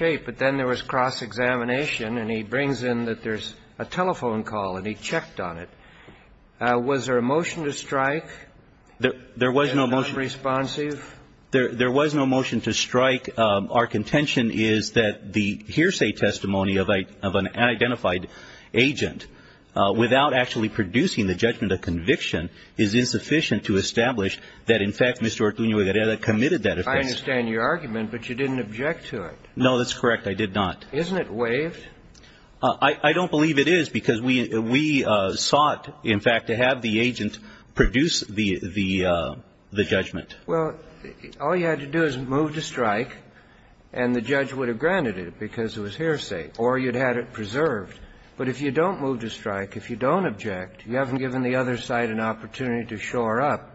But then there was cross-examination, and he brings in that there's a telephone call, and he checked on it. Was there a motion to strike? And was that responsive? There was no motion to strike. Our contention is that the hearsay testimony of an unidentified agent, without actually producing the judgment of conviction, is insufficient to establish that, in fact, Mr. Ortuno-Higareda committed that offense. I understand your argument, but you didn't object to it. No, that's correct. I did not. Isn't it waived? I don't believe it is, because we sought, in fact, to have the agent produce the judgment. Well, all you had to do is move to strike, and the judge would have granted it because it was hearsay, or you'd had it preserved. But if you don't move to strike, if you don't object, you haven't given the other side an opportunity to shore up.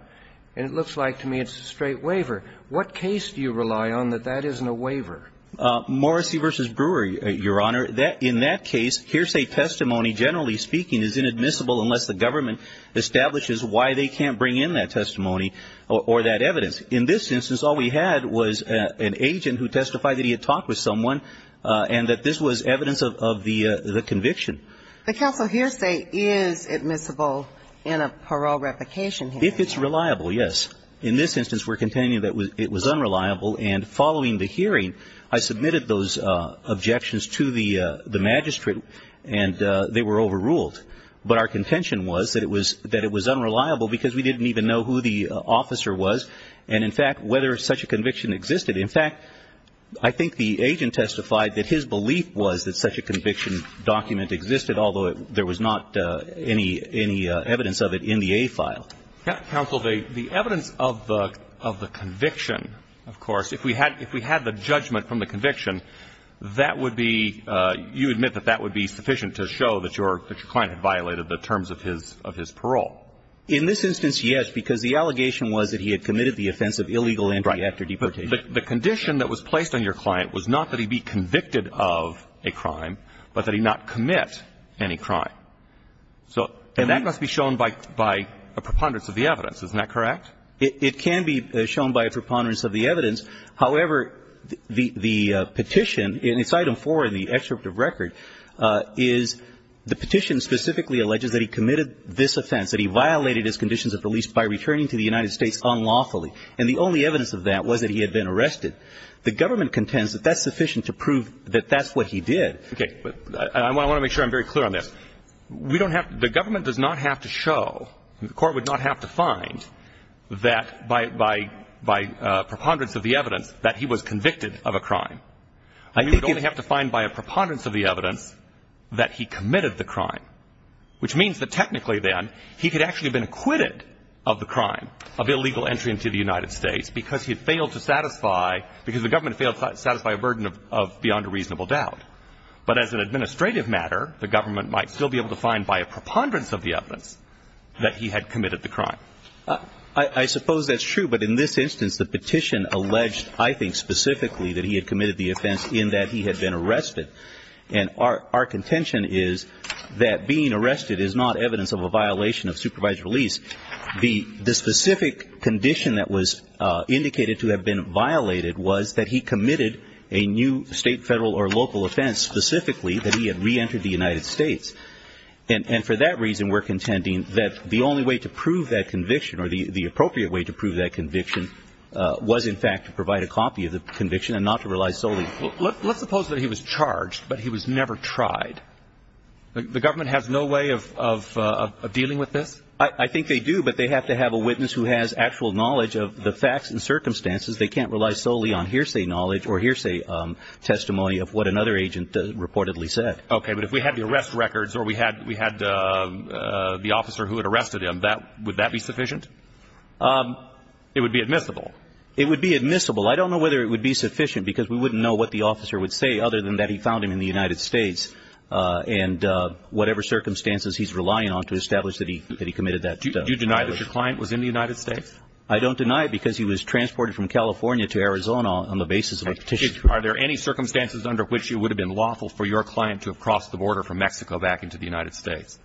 And it looks like to me it's a straight waiver. What case do you rely on that that isn't a waiver? Morrissey v. Brewer, Your Honor. In that case, hearsay testimony, generally speaking, is inadmissible unless the government establishes why they can't bring in that testimony or that evidence. In this instance, all we had was an agent who testified that he had talked with someone and that this was evidence of the conviction. The counsel hearsay is admissible in a parole replication hearing. If it's reliable, yes. In this instance, we're contending that it was unreliable. And following the hearing, I submitted those objections to the magistrate, and they were overruled. But our contention was that it was unreliable because we didn't even know who the officer was and, in fact, whether such a conviction existed. In fact, I think the agent testified that his belief was that such a conviction document existed, although there was not any evidence of it in the A file. Counsel, the evidence of the conviction, of course, if we had the judgment from the conviction, that would be you admit that that would be sufficient to show that your client had violated the terms of his parole. In this instance, yes, because the allegation was that he had committed the offense of illegal entry after deportation. The condition that was placed on your client was not that he be convicted of a crime, but that he not commit any crime. So that must be shown by a preponderance of the evidence. Isn't that correct? It can be shown by a preponderance of the evidence. However, the petition, in its item 4 in the excerpt of record, is the petition specifically alleges that he committed this offense, that he violated his conditions at the least by returning to the United States unlawfully. And the only evidence of that was that he had been arrested. The government contends that that's sufficient to prove that that's what he did. Okay. I want to make sure I'm very clear on this. We don't have, the government does not have to show, the court would not have to find that by, by, by preponderance of the evidence that he was convicted of a crime. I think you would only have to find by a preponderance of the evidence that he committed the crime. Which means that technically then, he could actually have been acquitted of the crime, of illegal entry into the United States, because he failed to satisfy, because the government failed to satisfy a burden of beyond a reasonable doubt. But as an administrative matter, the government might still be able to find by a preponderance of the evidence that he had committed the crime. I, I suppose that's true, but in this instance, the petition alleged, I think specifically, that he had committed the offense in that he had been arrested. And our, our contention is that being arrested is not evidence of a violation of supervised release. The, the specific condition that was indicated to have been violated was that he committed a new state, federal, or local offense, specifically that he had re-entered the United States. And, and for that reason, we're contending that the only way to prove that conviction, or the, the appropriate way to prove that conviction was, in fact, to provide a copy of the conviction and not to rely solely. Let, let's suppose that he was charged, but he was never tried. The government has no way of, of, of dealing with this? I, I think they do, but they have to have a witness who has actual knowledge of the facts and circumstances. They can't rely solely on hearsay knowledge or hearsay testimony of what another agent reportedly said. Okay, but if we had the arrest records, or we had, we had the officer who had arrested him, that, would that be sufficient? It would be admissible. It would be admissible. I don't know whether it would be sufficient, because we wouldn't know what the officer would say, other than that he found him in the United States. And whatever circumstances he's relying on to establish that he, that he committed that. Do, do you deny that your client was in the United States? I don't deny it, because he was transported from California to Arizona on the basis of a petition. Are there any circumstances under which you would have been lawful for your client to have crossed the border from Mexico back into the United States?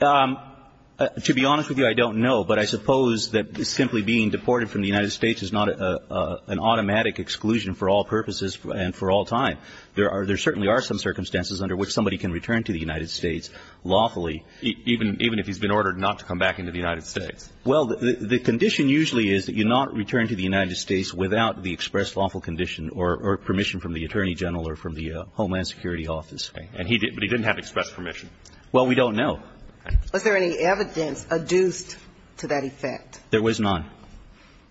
To be honest with you, I don't know. But I suppose that simply being deported from the United States is not an automatic exclusion for all purposes and for all time. There are, there certainly are some circumstances under which somebody can return to the United States lawfully. Even, even if he's been ordered not to come back into the United States? Well, the condition usually is that you not return to the United States without the expressed lawful condition or, or permission from the Attorney General or from the Homeland Security Office. Okay. And he didn't, but he didn't have express permission. Well, we don't know. Was there any evidence adduced to that effect? There was none.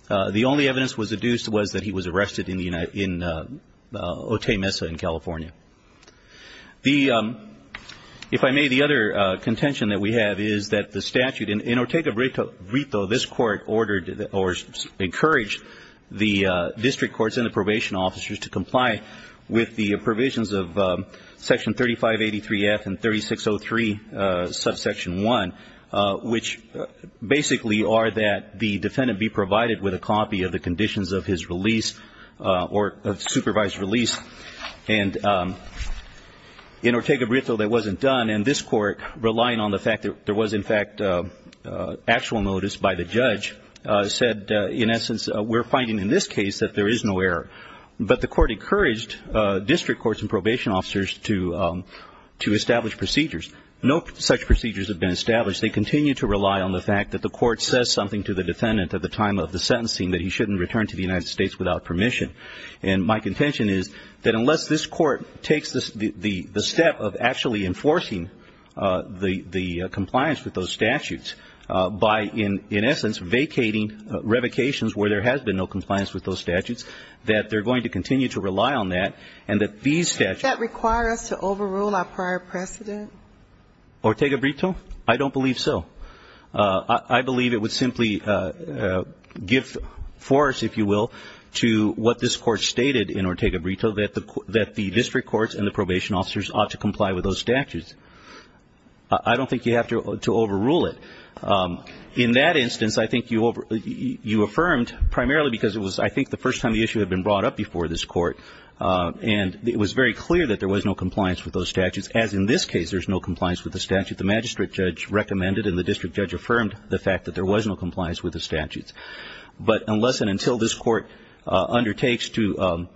The only evidence that was adduced was that he was arrested in the United, in Otey Mesa in California. The, if I may, the other contention that we have is that the statute in Ortega-Brito, this court ordered or encouraged the district courts and the probation officers to comply with the provisions of section 3583F and 3603 subsection 1, which basically are that the defendant be provided with a copy of the conditions of his release or supervised release. And in Ortega-Brito, that wasn't done. And this court, relying on the fact that there was, in fact, actual notice by the judge, said, in essence, we're finding in this case that there is no error. But the court encouraged district courts and probation officers to, to establish procedures. No such procedures have been established. They continue to rely on the fact that the court says something to the defendant at the time of the sentencing that he shouldn't return to the United States without permission. And my contention is that unless this court takes the step of actually enforcing the compliance with those statutes by, in essence, vacating revocations where there has been no compliance with those statutes, that they're going to continue to rely on that and that these statutes- Does that require us to overrule our prior precedent? Ortega-Brito? I don't believe so. I believe it would simply give force, if you will, to what this court stated in Ortega-Brito, that the district courts and the probation officers ought to comply with those statutes. I don't think you have to overrule it. In that instance, I think you affirmed, primarily because it was, I think, the first time the issue had been brought up before this court, and it was very clear that there was no compliance with those statutes, as in this case, there's no compliance with the statute the magistrate judge recommended, and the district judge affirmed the fact that there was no compliance with the statutes. But unless and until this court undertakes to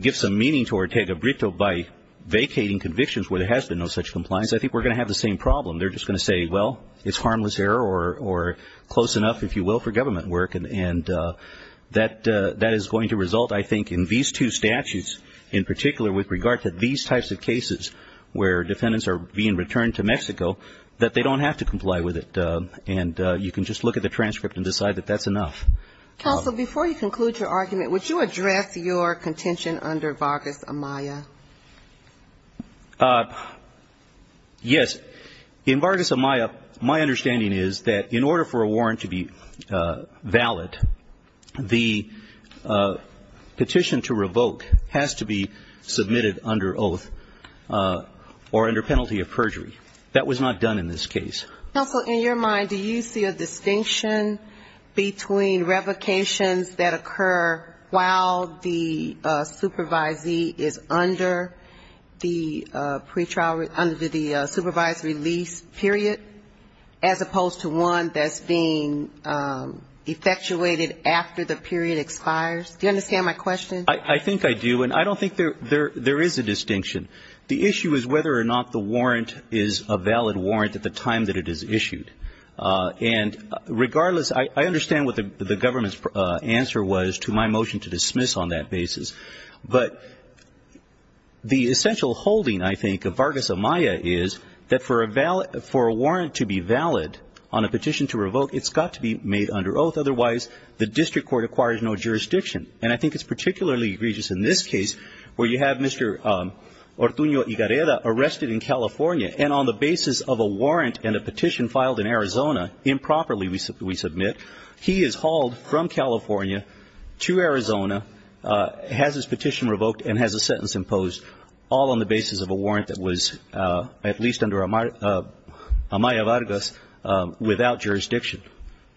give some meaning to Ortega-Brito by vacating convictions where there has been no such compliance, I think we're going to have the same problem. They're just going to say, well, it's harmless error, or close enough, if you will, for government work. And that is going to result, I think, in these two statutes in particular with regard to these types of cases, where defendants are being returned to Mexico, that they don't have to comply with it. And you can just look at the transcript and decide that that's enough. Counsel, before you conclude your argument, would you address your contention under Vargas-Amaya? Yes. In Vargas-Amaya, my understanding is that in order for a warrant to be valid, the petition to revoke has to be submitted under oath. Or under penalty of perjury. That was not done in this case. Counsel, in your mind, do you see a distinction between revocations that occur while the supervisee is under the pre-trial, under the supervised release period, as opposed to one that's being effectuated after the period expires? Do you understand my question? I don't know whether or not the warrant is a valid warrant at the time that it is issued. And regardless, I understand what the government's answer was to my motion to dismiss on that basis. But the essential holding, I think, of Vargas-Amaya is that for a warrant to be valid on a petition to revoke, it's got to be made under oath, otherwise the district court acquires no jurisdiction. And I think it's particularly egregious in this case where you have Mr. Ortunio Ygareda arrested in California and on the basis of a warrant and a petition filed in Arizona, improperly we submit, he is hauled from California to Arizona, has his petition revoked and has a sentence imposed, all on the basis of a warrant that was at least under Amaya-Vargas without jurisdiction.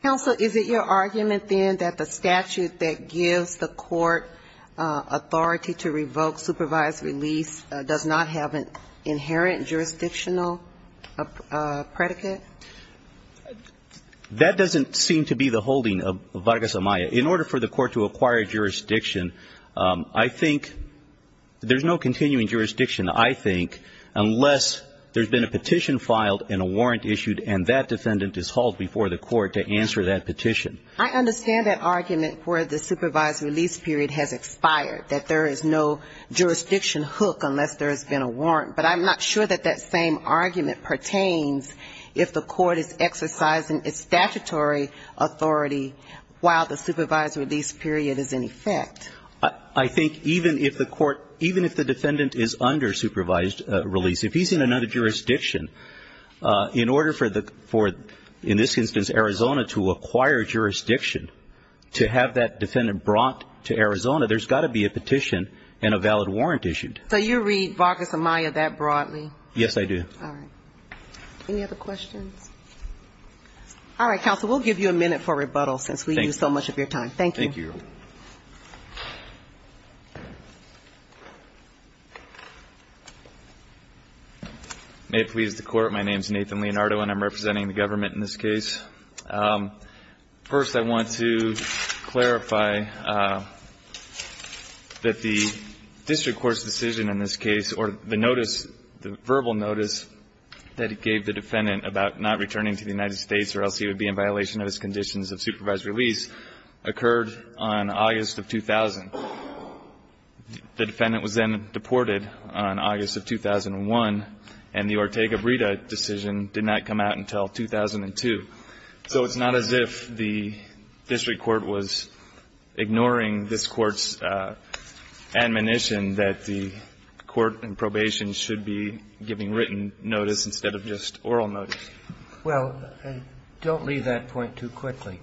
Counsel, is it your argument, then, that the statute that gives the court authority to revoke supervised release does not have an inherent jurisdictional predicate? That doesn't seem to be the holding of Vargas-Amaya. In order for the court to acquire jurisdiction, I think, there's no continuing jurisdiction, I think, unless there's been a petition filed and a warrant issued and that defendant is hauled before the court to answer that petition. I understand that argument where the supervised release period has expired, that there is no jurisdiction hook unless there has been a warrant. But I'm not sure that that same argument pertains if the court is exercising its statutory authority while the supervised release period is in effect. I think even if the defendant is under supervised release, if he's in another jurisdiction, in order for, in this instance, Arizona to acquire jurisdiction, to have that defendant brought to Arizona, there's got to be a petition and a valid warrant issued. So you read Vargas-Amaya that broadly? Yes, I do. Any other questions? All right, counsel, we'll give you a minute for rebuttal since we used so much of your time. Thank you. May it please the Court, my name is Nathan Leonardo and I'm representing the government in this case. First, I want to clarify that the district court's decision in this case, or the notice, the verbal notice that it gave the defendant about not returning to the United States or else he would be in violation of his conditions of supervised release, occurred on August of 2000. The defendant was then deported on August of 2001, and the Ortega-Breda decision did not come out until 2002. So it's not as if the district court was ignoring this Court's admonition that the court in probation should be released. It's more like giving written notice instead of just oral notice. Well, don't leave that point too quickly.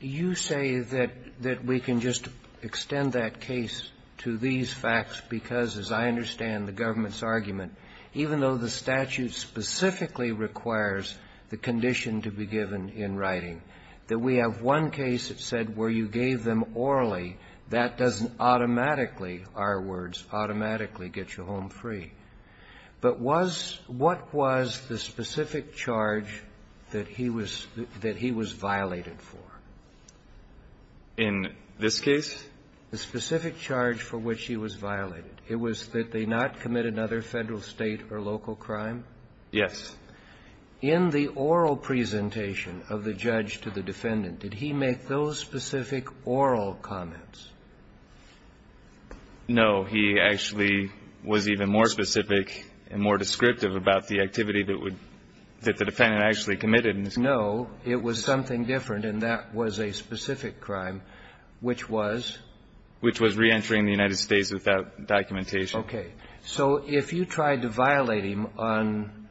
You say that we can just extend that case to these facts because, as I understand the government's argument, even though the statute specifically requires the condition to be given in writing, that we have one case that said where you gave them orally, that doesn't automatically, our words, automatically get you home free. But was what was the specific charge that he was that he was violated for? In this case? The specific charge for which he was violated. It was that they not commit another Federal, State, or local crime? Yes. In the oral presentation of the judge to the defendant, did he make those specific oral comments? No. He actually was even more specific and more descriptive about the activity that would, that the defendant actually committed in this case. No. It was something different, and that was a specific crime, which was? Which was reentering the United States without documentation. Okay. So if you tried to violate him on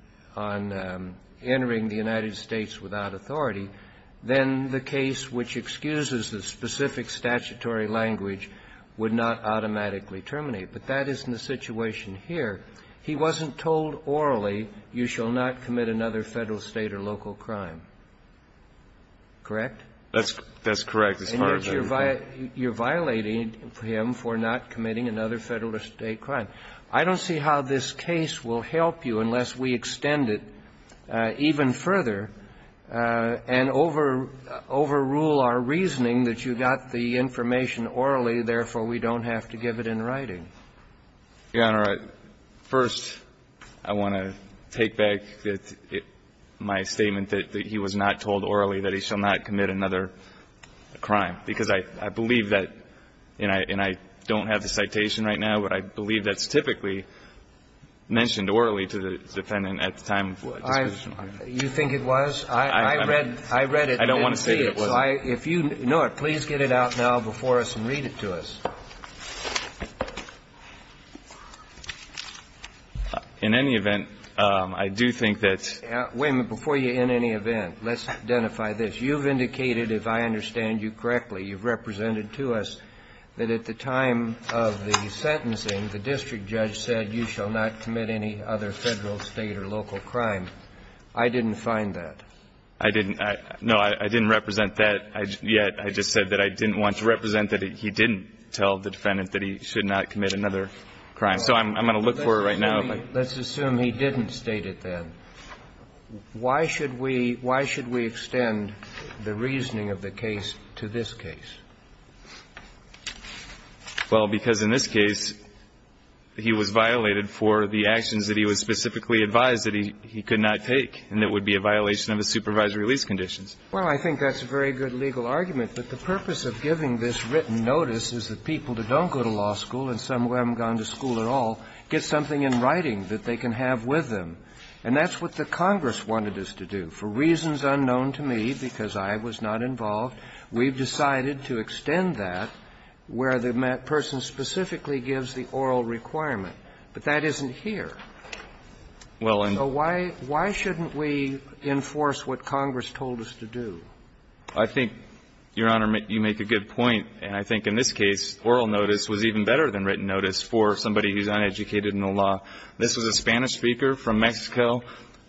entering the United States without authority, then the case which excuses the specific statutory language would not automatically terminate. But that isn't the situation here. He wasn't told orally, you shall not commit another Federal, State, or local crime. Correct? That's correct. And yet you're violating him for not committing another Federal, State, or local crime. I don't see how this case will help you unless we extend it even further and overrule our reasoning that you got the information orally, therefore we don't have to give it in writing. Your Honor, first I want to take back my statement that he was not told orally that he shall not commit another crime. Because I believe that, and I don't have the citation right now, but I believe that's typically mentioned orally to the defendant at the time of disposition. You think it was? I read it and didn't see it. I don't want to say that it wasn't. If you know it, please get it out now before us and read it to us. In any event, I do think that's... Wait a minute. Before you, in any event, let's identify this. You've indicated, if I understand you correctly, you've represented to us that at the time of the sentencing, the district judge said you shall not commit any other Federal, State, or local crime. I didn't find that. I didn't. No, I didn't represent that yet. I just said that I didn't want to represent that he didn't tell the defendant that he should not commit another crime. So I'm going to look for it right now. Let's assume he didn't state it then. Why should we extend the reasoning of the case to this case? Well, because in this case, he was violated for the actions that he was specifically advised that he could not take, and it would be a violation of his supervisory release conditions. Well, I think that's a very good legal argument. But the purpose of giving this written notice is that people that don't go to law school and some who haven't gone to school at all get something in writing that they can have with them. And that's what the Congress wanted us to do. For reasons unknown to me, because I was not involved, we've decided to extend that where the person specifically gives the oral requirement. But that isn't here. So why shouldn't we enforce what Congress told us to do? I think, Your Honor, you make a good point. And I think in this case, oral notice was even better than written notice for somebody who's uneducated in the law. This was a Spanish speaker from Mexico,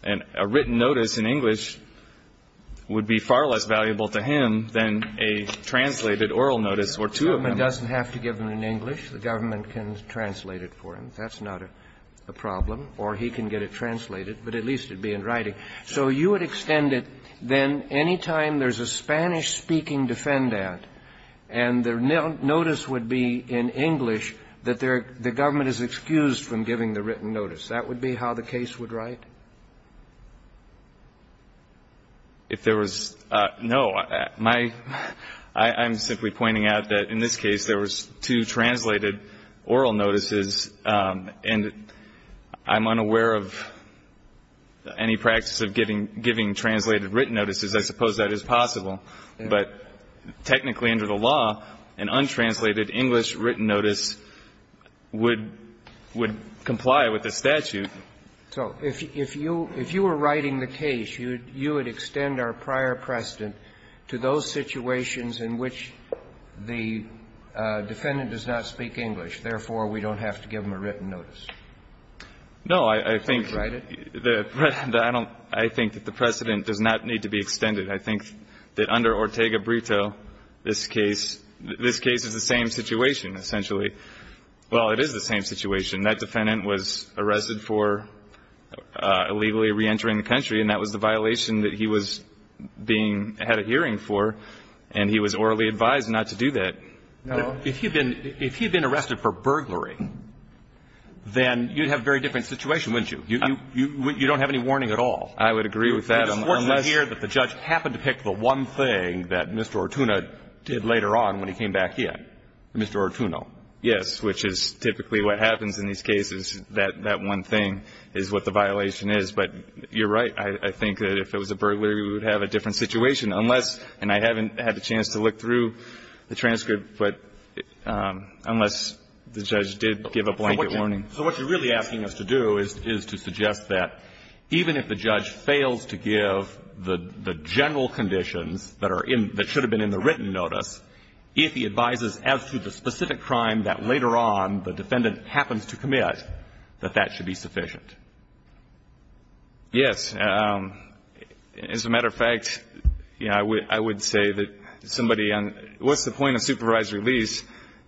and a written notice in English would be far less valuable to him than a translated oral notice or two of them. The government doesn't have to give them in English. The government can translate it for him. That's not a problem. Or he can get it translated, but at least it would be in writing. So you would extend it, then, anytime there's a Spanish-speaking defendant and their notice would be in English, that the government is excused from giving the written notice. That would be how the case would write? If there was no. I'm simply pointing out that in this case, there was two translated oral notices, and I'm unaware of any practice of giving translated written notices. I suppose that is possible. But technically under the law, an untranslated English written notice would comply with the statute. So if you were writing the case, you would extend our prior precedent to those situations in which the defendant does not speak English. Therefore, we don't have to give them a written notice. No. I think that the precedent does not need to be extended. I think that under Ortega-Brito, this case is the same situation, essentially. Well, it is the same situation. That defendant was arrested for illegally reentering the country, and that was the violation that he was being at a hearing for, and he was orally advised not to do that. No. If he had been arrested for burglary, then you'd have a very different situation, wouldn't you? You don't have any warning at all. I would agree with that, unless you hear that the judge happened to pick the one thing that Mr. Artuno did later on when he came back here. Mr. Artuno. Yes, which is typically what happens in these cases. That one thing is what the violation is. But you're right. I think that if it was a burglary, we would have a different situation. Unless, and I haven't had the chance to look through the transcript, but unless the judge did give a blanket warning. So what you're really asking us to do is to suggest that even if the judge fails to give the general conditions that are in, that should have been in the written notice, if he advises as to the specific crime that later on the defendant happens to commit, that that should be sufficient. Yes. As a matter of fact, I would say that somebody on, what's the point of supervised release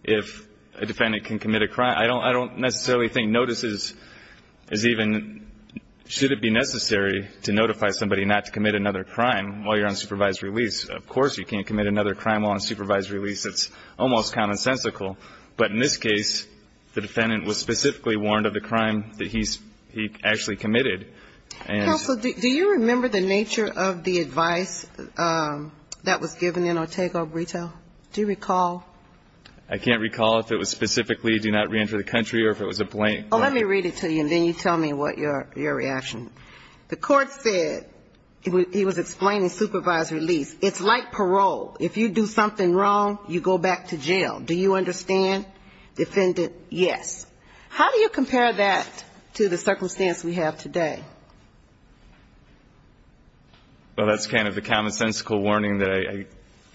if a defendant can commit a crime? I don't necessarily think notices is even, should it be necessary to notify somebody not to commit another crime while you're on supervised release? Of course you can't commit another crime while on supervised release. It's almost commonsensical. But in this case, the defendant was specifically warned of the crime that he actually committed. Counsel, do you remember the nature of the advice that was given in Ortega-Obrito? Do you recall? I can't recall if it was specifically do not reenter the country or if it was a blank. Well, let me read it to you and then you tell me what your reaction. The court said, he was explaining supervised release. It's like parole. If you do something wrong, you go back to jail. Do you understand, defendant? Yes. How do you compare that to the circumstance we have today? Well, that's kind of the commonsensical warning that I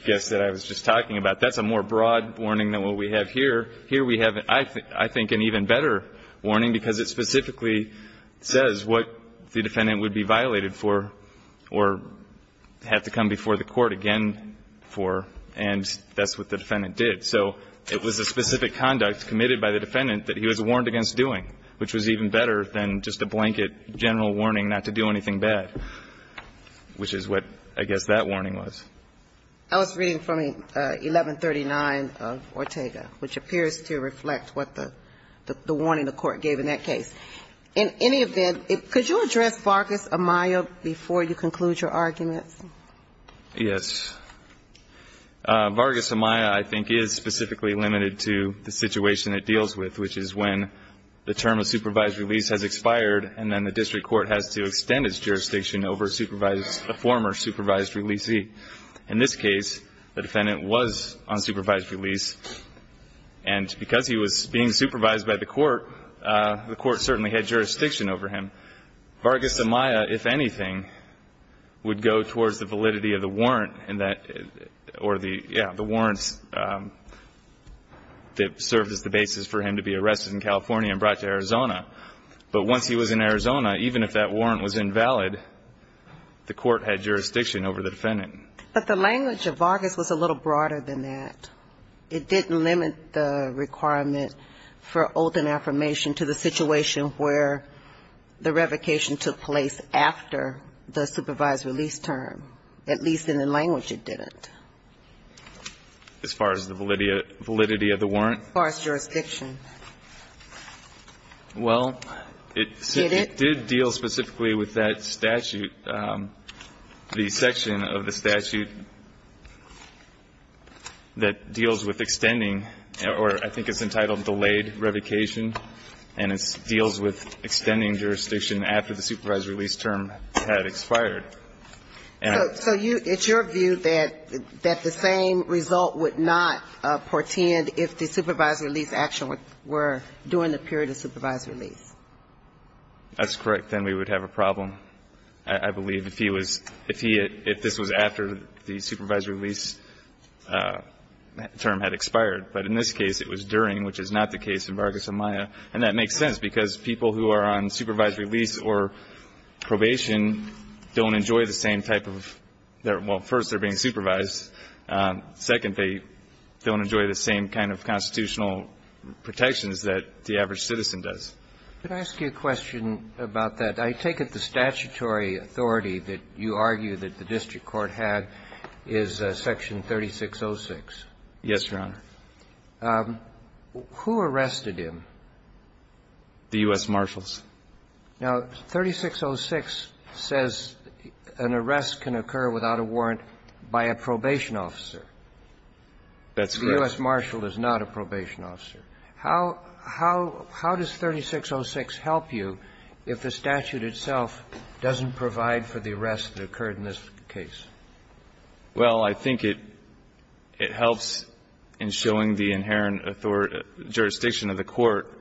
guess that I was just talking about. That's a more broad warning than what we have here. Here we have, I think, an even better warning because it specifically says what the defendant would be violated for or had to come before the court again for, and that's what the defendant did. So it was a specific conduct committed by the defendant that he was warned against doing, which was even better than just a blanket general warning not to do anything bad, which is what I guess that warning was. I was reading from 1139 of Ortega, which appears to reflect what the warning the court gave in that case. In any event, could you address Vargas-Amaya before you conclude your argument? Yes. Vargas-Amaya, I think, is specifically limited to the situation it deals with, which is when the term of supervised release has expired and then the district court has to extend its jurisdiction over a former supervised releasee. In this case, the defendant was on supervised release, and because he was being supervised by the court, the court certainly had jurisdiction over him. Vargas-Amaya, if anything, would go towards the validity of the warrant or the warrants that served as the basis for him to be arrested in California and brought to Arizona. But once he was in Arizona, even if that warrant was invalid, the court had jurisdiction over the defendant. But the language of Vargas was a little broader than that. It didn't limit the requirement for oath and affirmation to the situation where the revocation took place after the supervised release term, at least in the language it didn't. As far as the validity of the warrant? As far as jurisdiction. Well, it did deal specifically with that statute, the section of the statute that deals with extending, or I think it's entitled delayed revocation, and it deals with extending jurisdiction after the supervised release term had expired. So you – it's your view that the same result would not portend if the supervised release action were during the period of supervised release? That's correct. Then we would have a problem, I believe, if he was – if he – if this was after the supervised release term had expired. But in this case, it was during, which is not the case in Vargas-Amaya. And that makes sense, because people who are on supervised release or probation don't enjoy the same type of – well, first, they're being supervised. Second, they don't enjoy the same kind of constitutional protections that the average citizen does. Could I ask you a question about that? I take it the statutory authority that you argue that the district court had is Section 3606. Yes, Your Honor. Who arrested him? The U.S. Marshals. Now, 3606 says an arrest can occur without a warrant by a probation officer. That's correct. The U.S. Marshal is not a probation officer. How – how does 3606 help you if the statute itself doesn't provide for the arrest that occurred in this case? Well, I think it – it helps in showing the inherent jurisdiction of the court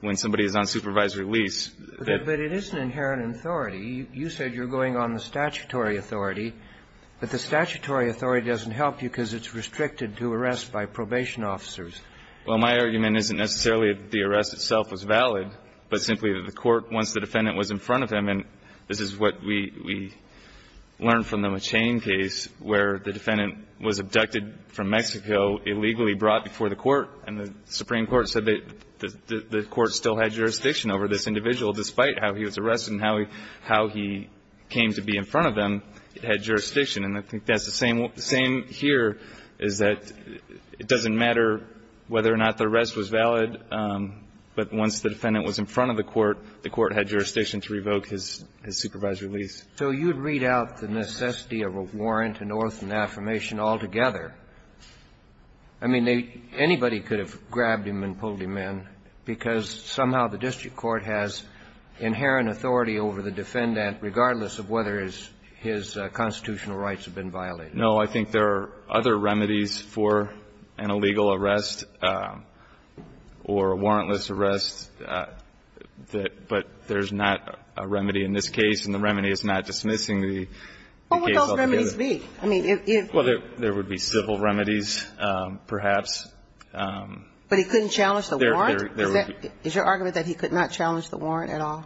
when somebody is on supervised release. But it is an inherent authority. You said you're going on the statutory authority. But the statutory authority doesn't help you because it's restricted to arrests by probation officers. Well, my argument isn't necessarily that the arrest itself was valid, but simply that the court, once the defendant was in front of him, and this is what we – we see in the chain case where the defendant was abducted from Mexico, illegally brought before the court, and the Supreme Court said that the court still had jurisdiction over this individual, despite how he was arrested and how he – how he came to be in front of him, it had jurisdiction. And I think that's the same here, is that it doesn't matter whether or not the arrest was valid, but once the defendant was in front of the court, the court had jurisdiction to revoke his supervised release. So you'd read out the necessity of a warrant, an oath, and affirmation altogether. I mean, they – anybody could have grabbed him and pulled him in because somehow the district court has inherent authority over the defendant, regardless of whether his constitutional rights have been violated. No, I think there are other remedies for an illegal arrest or a warrantless arrest, but there's not a remedy in this case, and the remedy is not dismissing the case altogether. What would those remedies be? I mean, if you – Well, there would be civil remedies, perhaps. But he couldn't challenge the warrant? There would be – Is your argument that he could not challenge the warrant at all?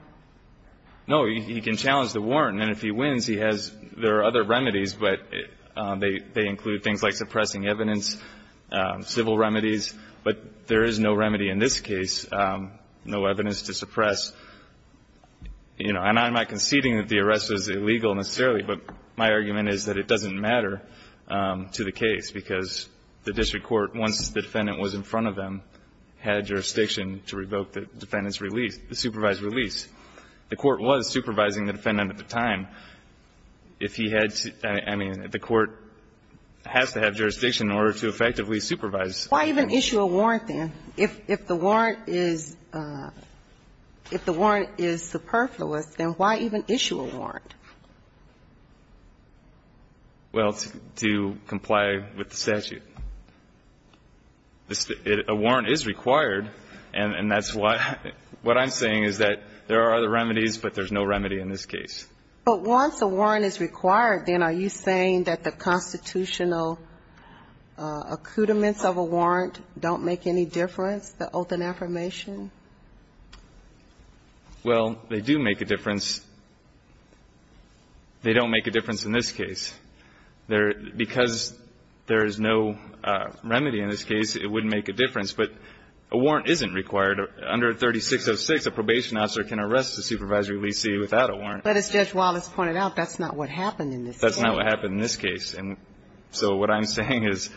No, he can challenge the warrant, and if he wins, he has – there are other remedies, but they include things like suppressing evidence, civil remedies. But there is no remedy in this case, no evidence to suppress. You know, and I'm not conceding that the arrest was illegal, necessarily, but my argument is that it doesn't matter to the case, because the district court, once the defendant was in front of him, had jurisdiction to revoke the defendant's release – the supervised release. The court was supervising the defendant at the time. If he had – I mean, the court has to have jurisdiction in order to effectively supervise. Why even issue a warrant, then? If the warrant is – if the warrant is superfluous, then why even issue a warrant? Well, to comply with the statute. A warrant is required, and that's why – what I'm saying is that there are other remedies, but there's no remedy in this case. But once a warrant is required, then are you saying that the constitutional accoutrements of a warrant don't make any difference, the oath and affirmation? Well, they do make a difference. They don't make a difference in this case. Because there is no remedy in this case, it wouldn't make a difference. But a warrant isn't required. Under 3606, a probation officer can arrest a supervised releasee without a warrant. But as Judge Wallace pointed out, that's not what happened in this case. That's not what happened in this case. And so what I'm saying is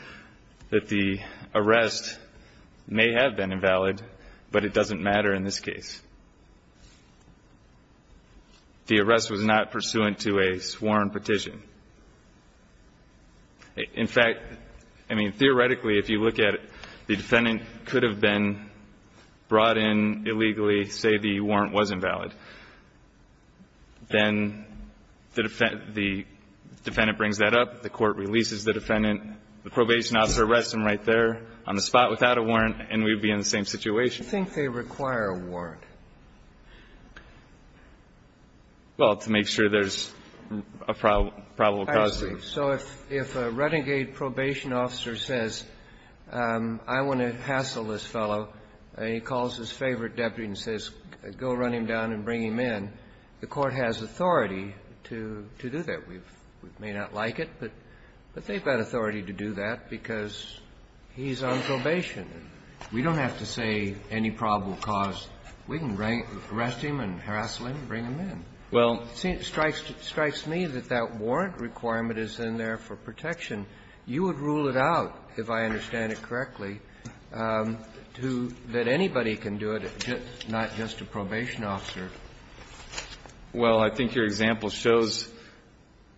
that the arrest may have been invalid, but it doesn't matter in this case. The arrest was not pursuant to a sworn petition. In fact, I mean, theoretically, if you look at it, the defendant could have been brought in illegally, say the warrant was invalid. Then the defendant brings that up, the court releases the defendant, the probation officer arrests him right there on the spot without a warrant, and we'd be in the same situation. Do you think they require a warrant? Well, to make sure there's a probable cause. I see. So if a renegade probation officer says, I want to hassle this fellow, and he calls his favorite deputy and says, go run him down and bring him in, the court has authority to do that. We may not like it, but they've got authority to do that because he's on probation. We don't have to say any probable cause. We can arrest him and hassle him and bring him in. Well, it strikes me that that warrant requirement is in there for protection. You would rule it out, if I understand it correctly, to that anybody can do it, not just a probation officer. Well, I think your example shows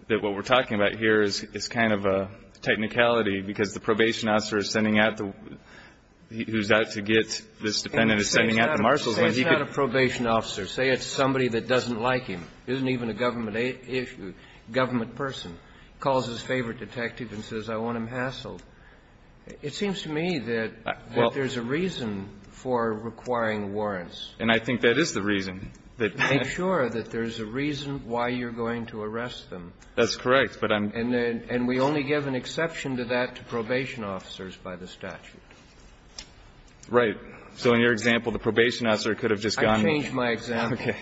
that what we're talking about here is kind of a technicality because the probation officer is sending out the one who's out to get this defendant is sending out the marshals. Say it's not a probation officer. Say it's somebody that doesn't like him. Isn't even a government person. Calls his favorite detective and says, I want him hassled. It seems to me that there's a reason for requiring warrants. And I think that is the reason. Make sure that there's a reason why you're going to arrest them. That's correct. And we only give an exception to that to probation officers by the statute. Right. So in your example, the probation officer could have just gone. I changed my example. Okay.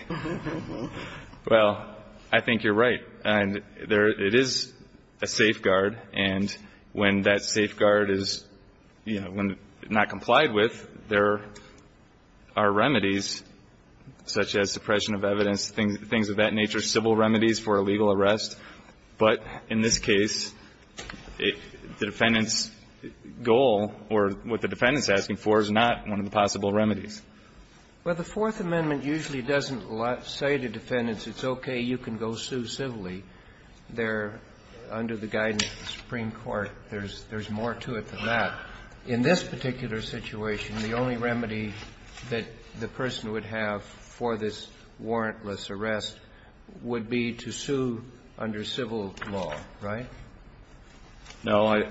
Well, I think you're right. And it is a safeguard. And when that safeguard is, you know, not complied with, there are remedies such as suppression of evidence, things of that nature, civil remedies for a legal arrest. But in this case, the defendant's goal or what the defendant's asking for is not one of the possible remedies. Well, the Fourth Amendment usually doesn't say to defendants, it's okay, you can go sue civilly. There, under the guidance of the Supreme Court, there's more to it than that. In this particular situation, the only remedy that the person would have for this warrantless arrest would be to sue under civil law, right? No.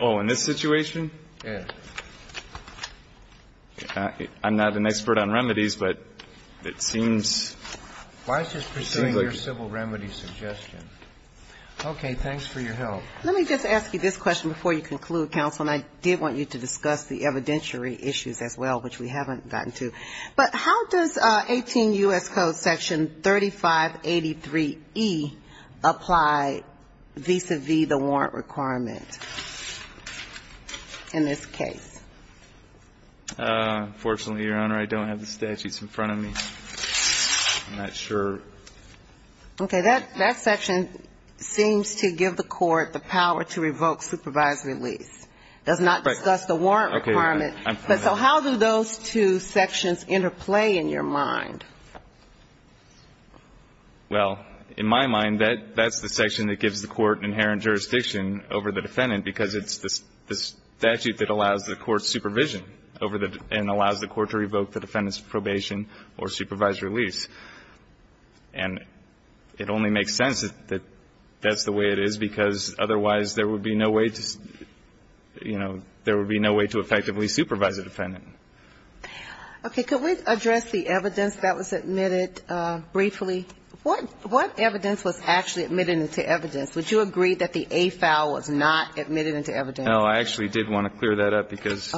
Oh, in this situation? Yes. I'm not an expert on remedies, but it seems. Why is this pursuing your civil remedy suggestion? Okay. Thanks for your help. Let me just ask you this question before you conclude, counsel, and I did want you to discuss the evidentiary issues as well, which we haven't gotten to. But how does 18 U.S. Code section 3583E apply vis-à-vis the warrant requirement in this case? Unfortunately, Your Honor, I don't have the statutes in front of me. I'm not sure. Okay. That section seems to give the court the power to revoke supervisory lease. It does not discuss the warrant requirement. But so how do those two sections interplay in your mind? Well, in my mind, that's the section that gives the court inherent jurisdiction over the defendant because it's the statute that allows the court supervision and allows the court to revoke the defendant's probation or supervisory lease. And it only makes sense that that's the way it is because otherwise there would be no way to, you know, there would be no way to effectively supervise a defendant. Okay. Could we address the evidence that was admitted briefly? What evidence was actually admitted into evidence? Would you agree that the A file was not admitted into evidence? No. I actually did want to clear that up because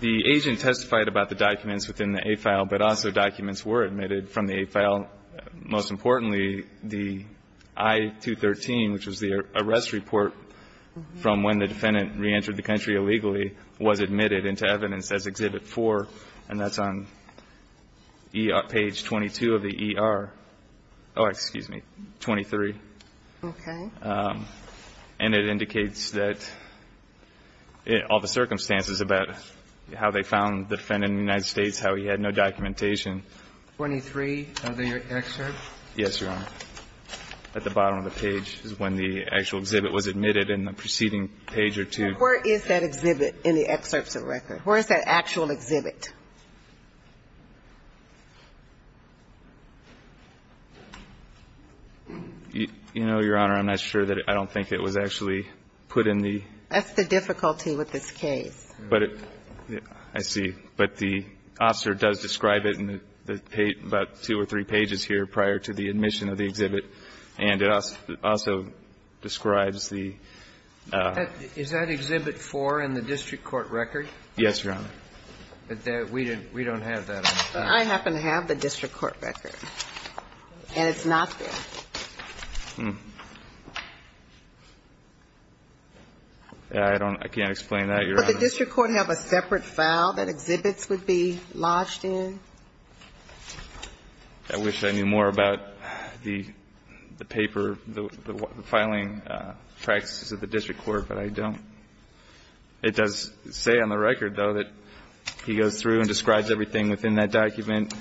the agent testified about the documents within the A file, but also documents were admitted from the A file. Most importantly, the I-213, which was the arrest report from when the defendant reentered the country illegally, was admitted into evidence as Exhibit 4, and that's on page 22 of the ER. Oh, excuse me. 23. Okay. And it indicates that all the circumstances about how they found the defendant in the United States, how he had no documentation. 23 of the excerpt? Yes, Your Honor. At the bottom of the page is when the actual exhibit was admitted in the preceding page or two. Where is that exhibit in the excerpts of the record? Where is that actual exhibit? You know, Your Honor, I'm not sure that I don't think it was actually put in the ---- That's the difficulty with this case. But it ---- I see. But the officer does describe it in about two or three pages here prior to the admission of the exhibit, and it also describes the ---- Is that Exhibit 4 in the district court record? Yes, Your Honor. We don't have that. I happen to have the district court record, and it's not there. I don't ---- I can't explain that, Your Honor. But the district court have a separate file that exhibits would be lodged in? I wish I knew more about the paper, the filing practices of the district court, but I don't. It does say on the record, though, that he goes through and describes everything within that document.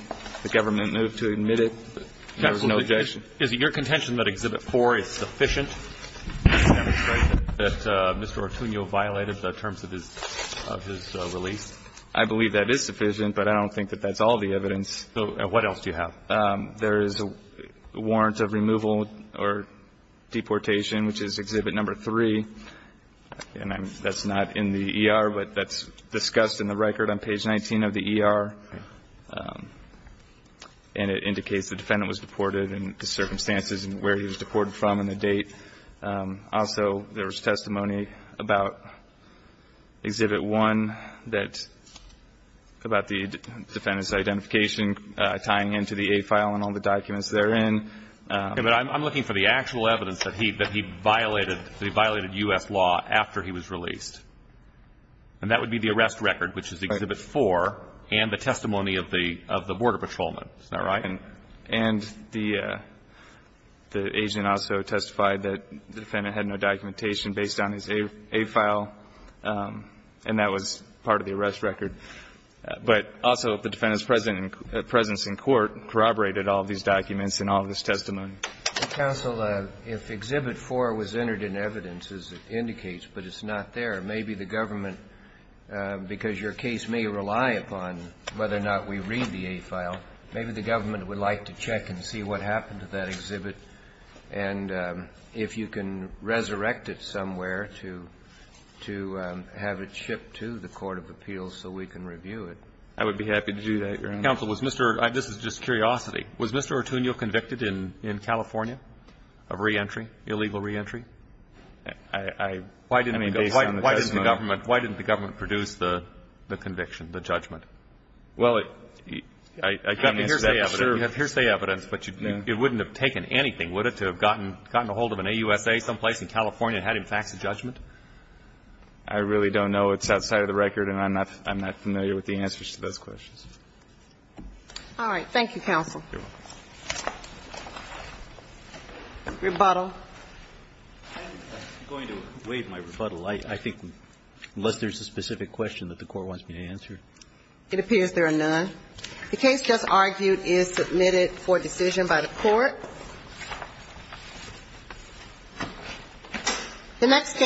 The government moved to admit it. There was no objection. Counsel, is it your contention that Exhibit 4 is sufficient to demonstrate that Mr. Artunio violated the terms of his release? I believe that is sufficient, but I don't think that that's all the evidence. So what else do you have? There is a warrant of removal or deportation, which is Exhibit Number 3. And that's not in the ER, but that's discussed in the record on page 19 of the ER. And it indicates the defendant was deported and the circumstances and where he was deported from and the date. Also, there was testimony about Exhibit 1 that ---- about the defendant's identification tying into the A file and all the documents therein. Okay. But I'm looking for the actual evidence that he violated U.S. law after he was released. And that would be the arrest record, which is Exhibit 4, and the testimony of the border patrolman. Is that right? And the agent also testified that the defendant had no documentation based on his A file, and that was part of the arrest record. But also the defendant's presence in court corroborated all of these documents and all of this testimony. Counsel, if Exhibit 4 was entered in evidence, as it indicates, but it's not there, maybe the government, because your case may rely upon whether or not we read the A file, maybe the government would like to check and see what happened to that exhibit and if you can resurrect it somewhere to have it shipped to the court of appeals so we can review it. I would be happy to do that, Your Honor. Counsel, was Mr. ---- this is just curiosity. Was Mr. Artunio convicted in California of re-entry, illegal re-entry? I mean, based on the testimony. Why didn't the government produce the conviction, the judgment? Well, I mean, here's the evidence, but it wouldn't have taken anything, would it, to have gotten a hold of an AUSA someplace in California and had him fax a judgment? I really don't know. It's outside of the record, and I'm not familiar with the answers to those questions. All right. Thank you, counsel. Rebuttal. I'm going to waive my rebuttal. I think, unless there's a specific question that the Court wants me to answer. It appears there are none. The case just argued is submitted for decision by the Court. The next case.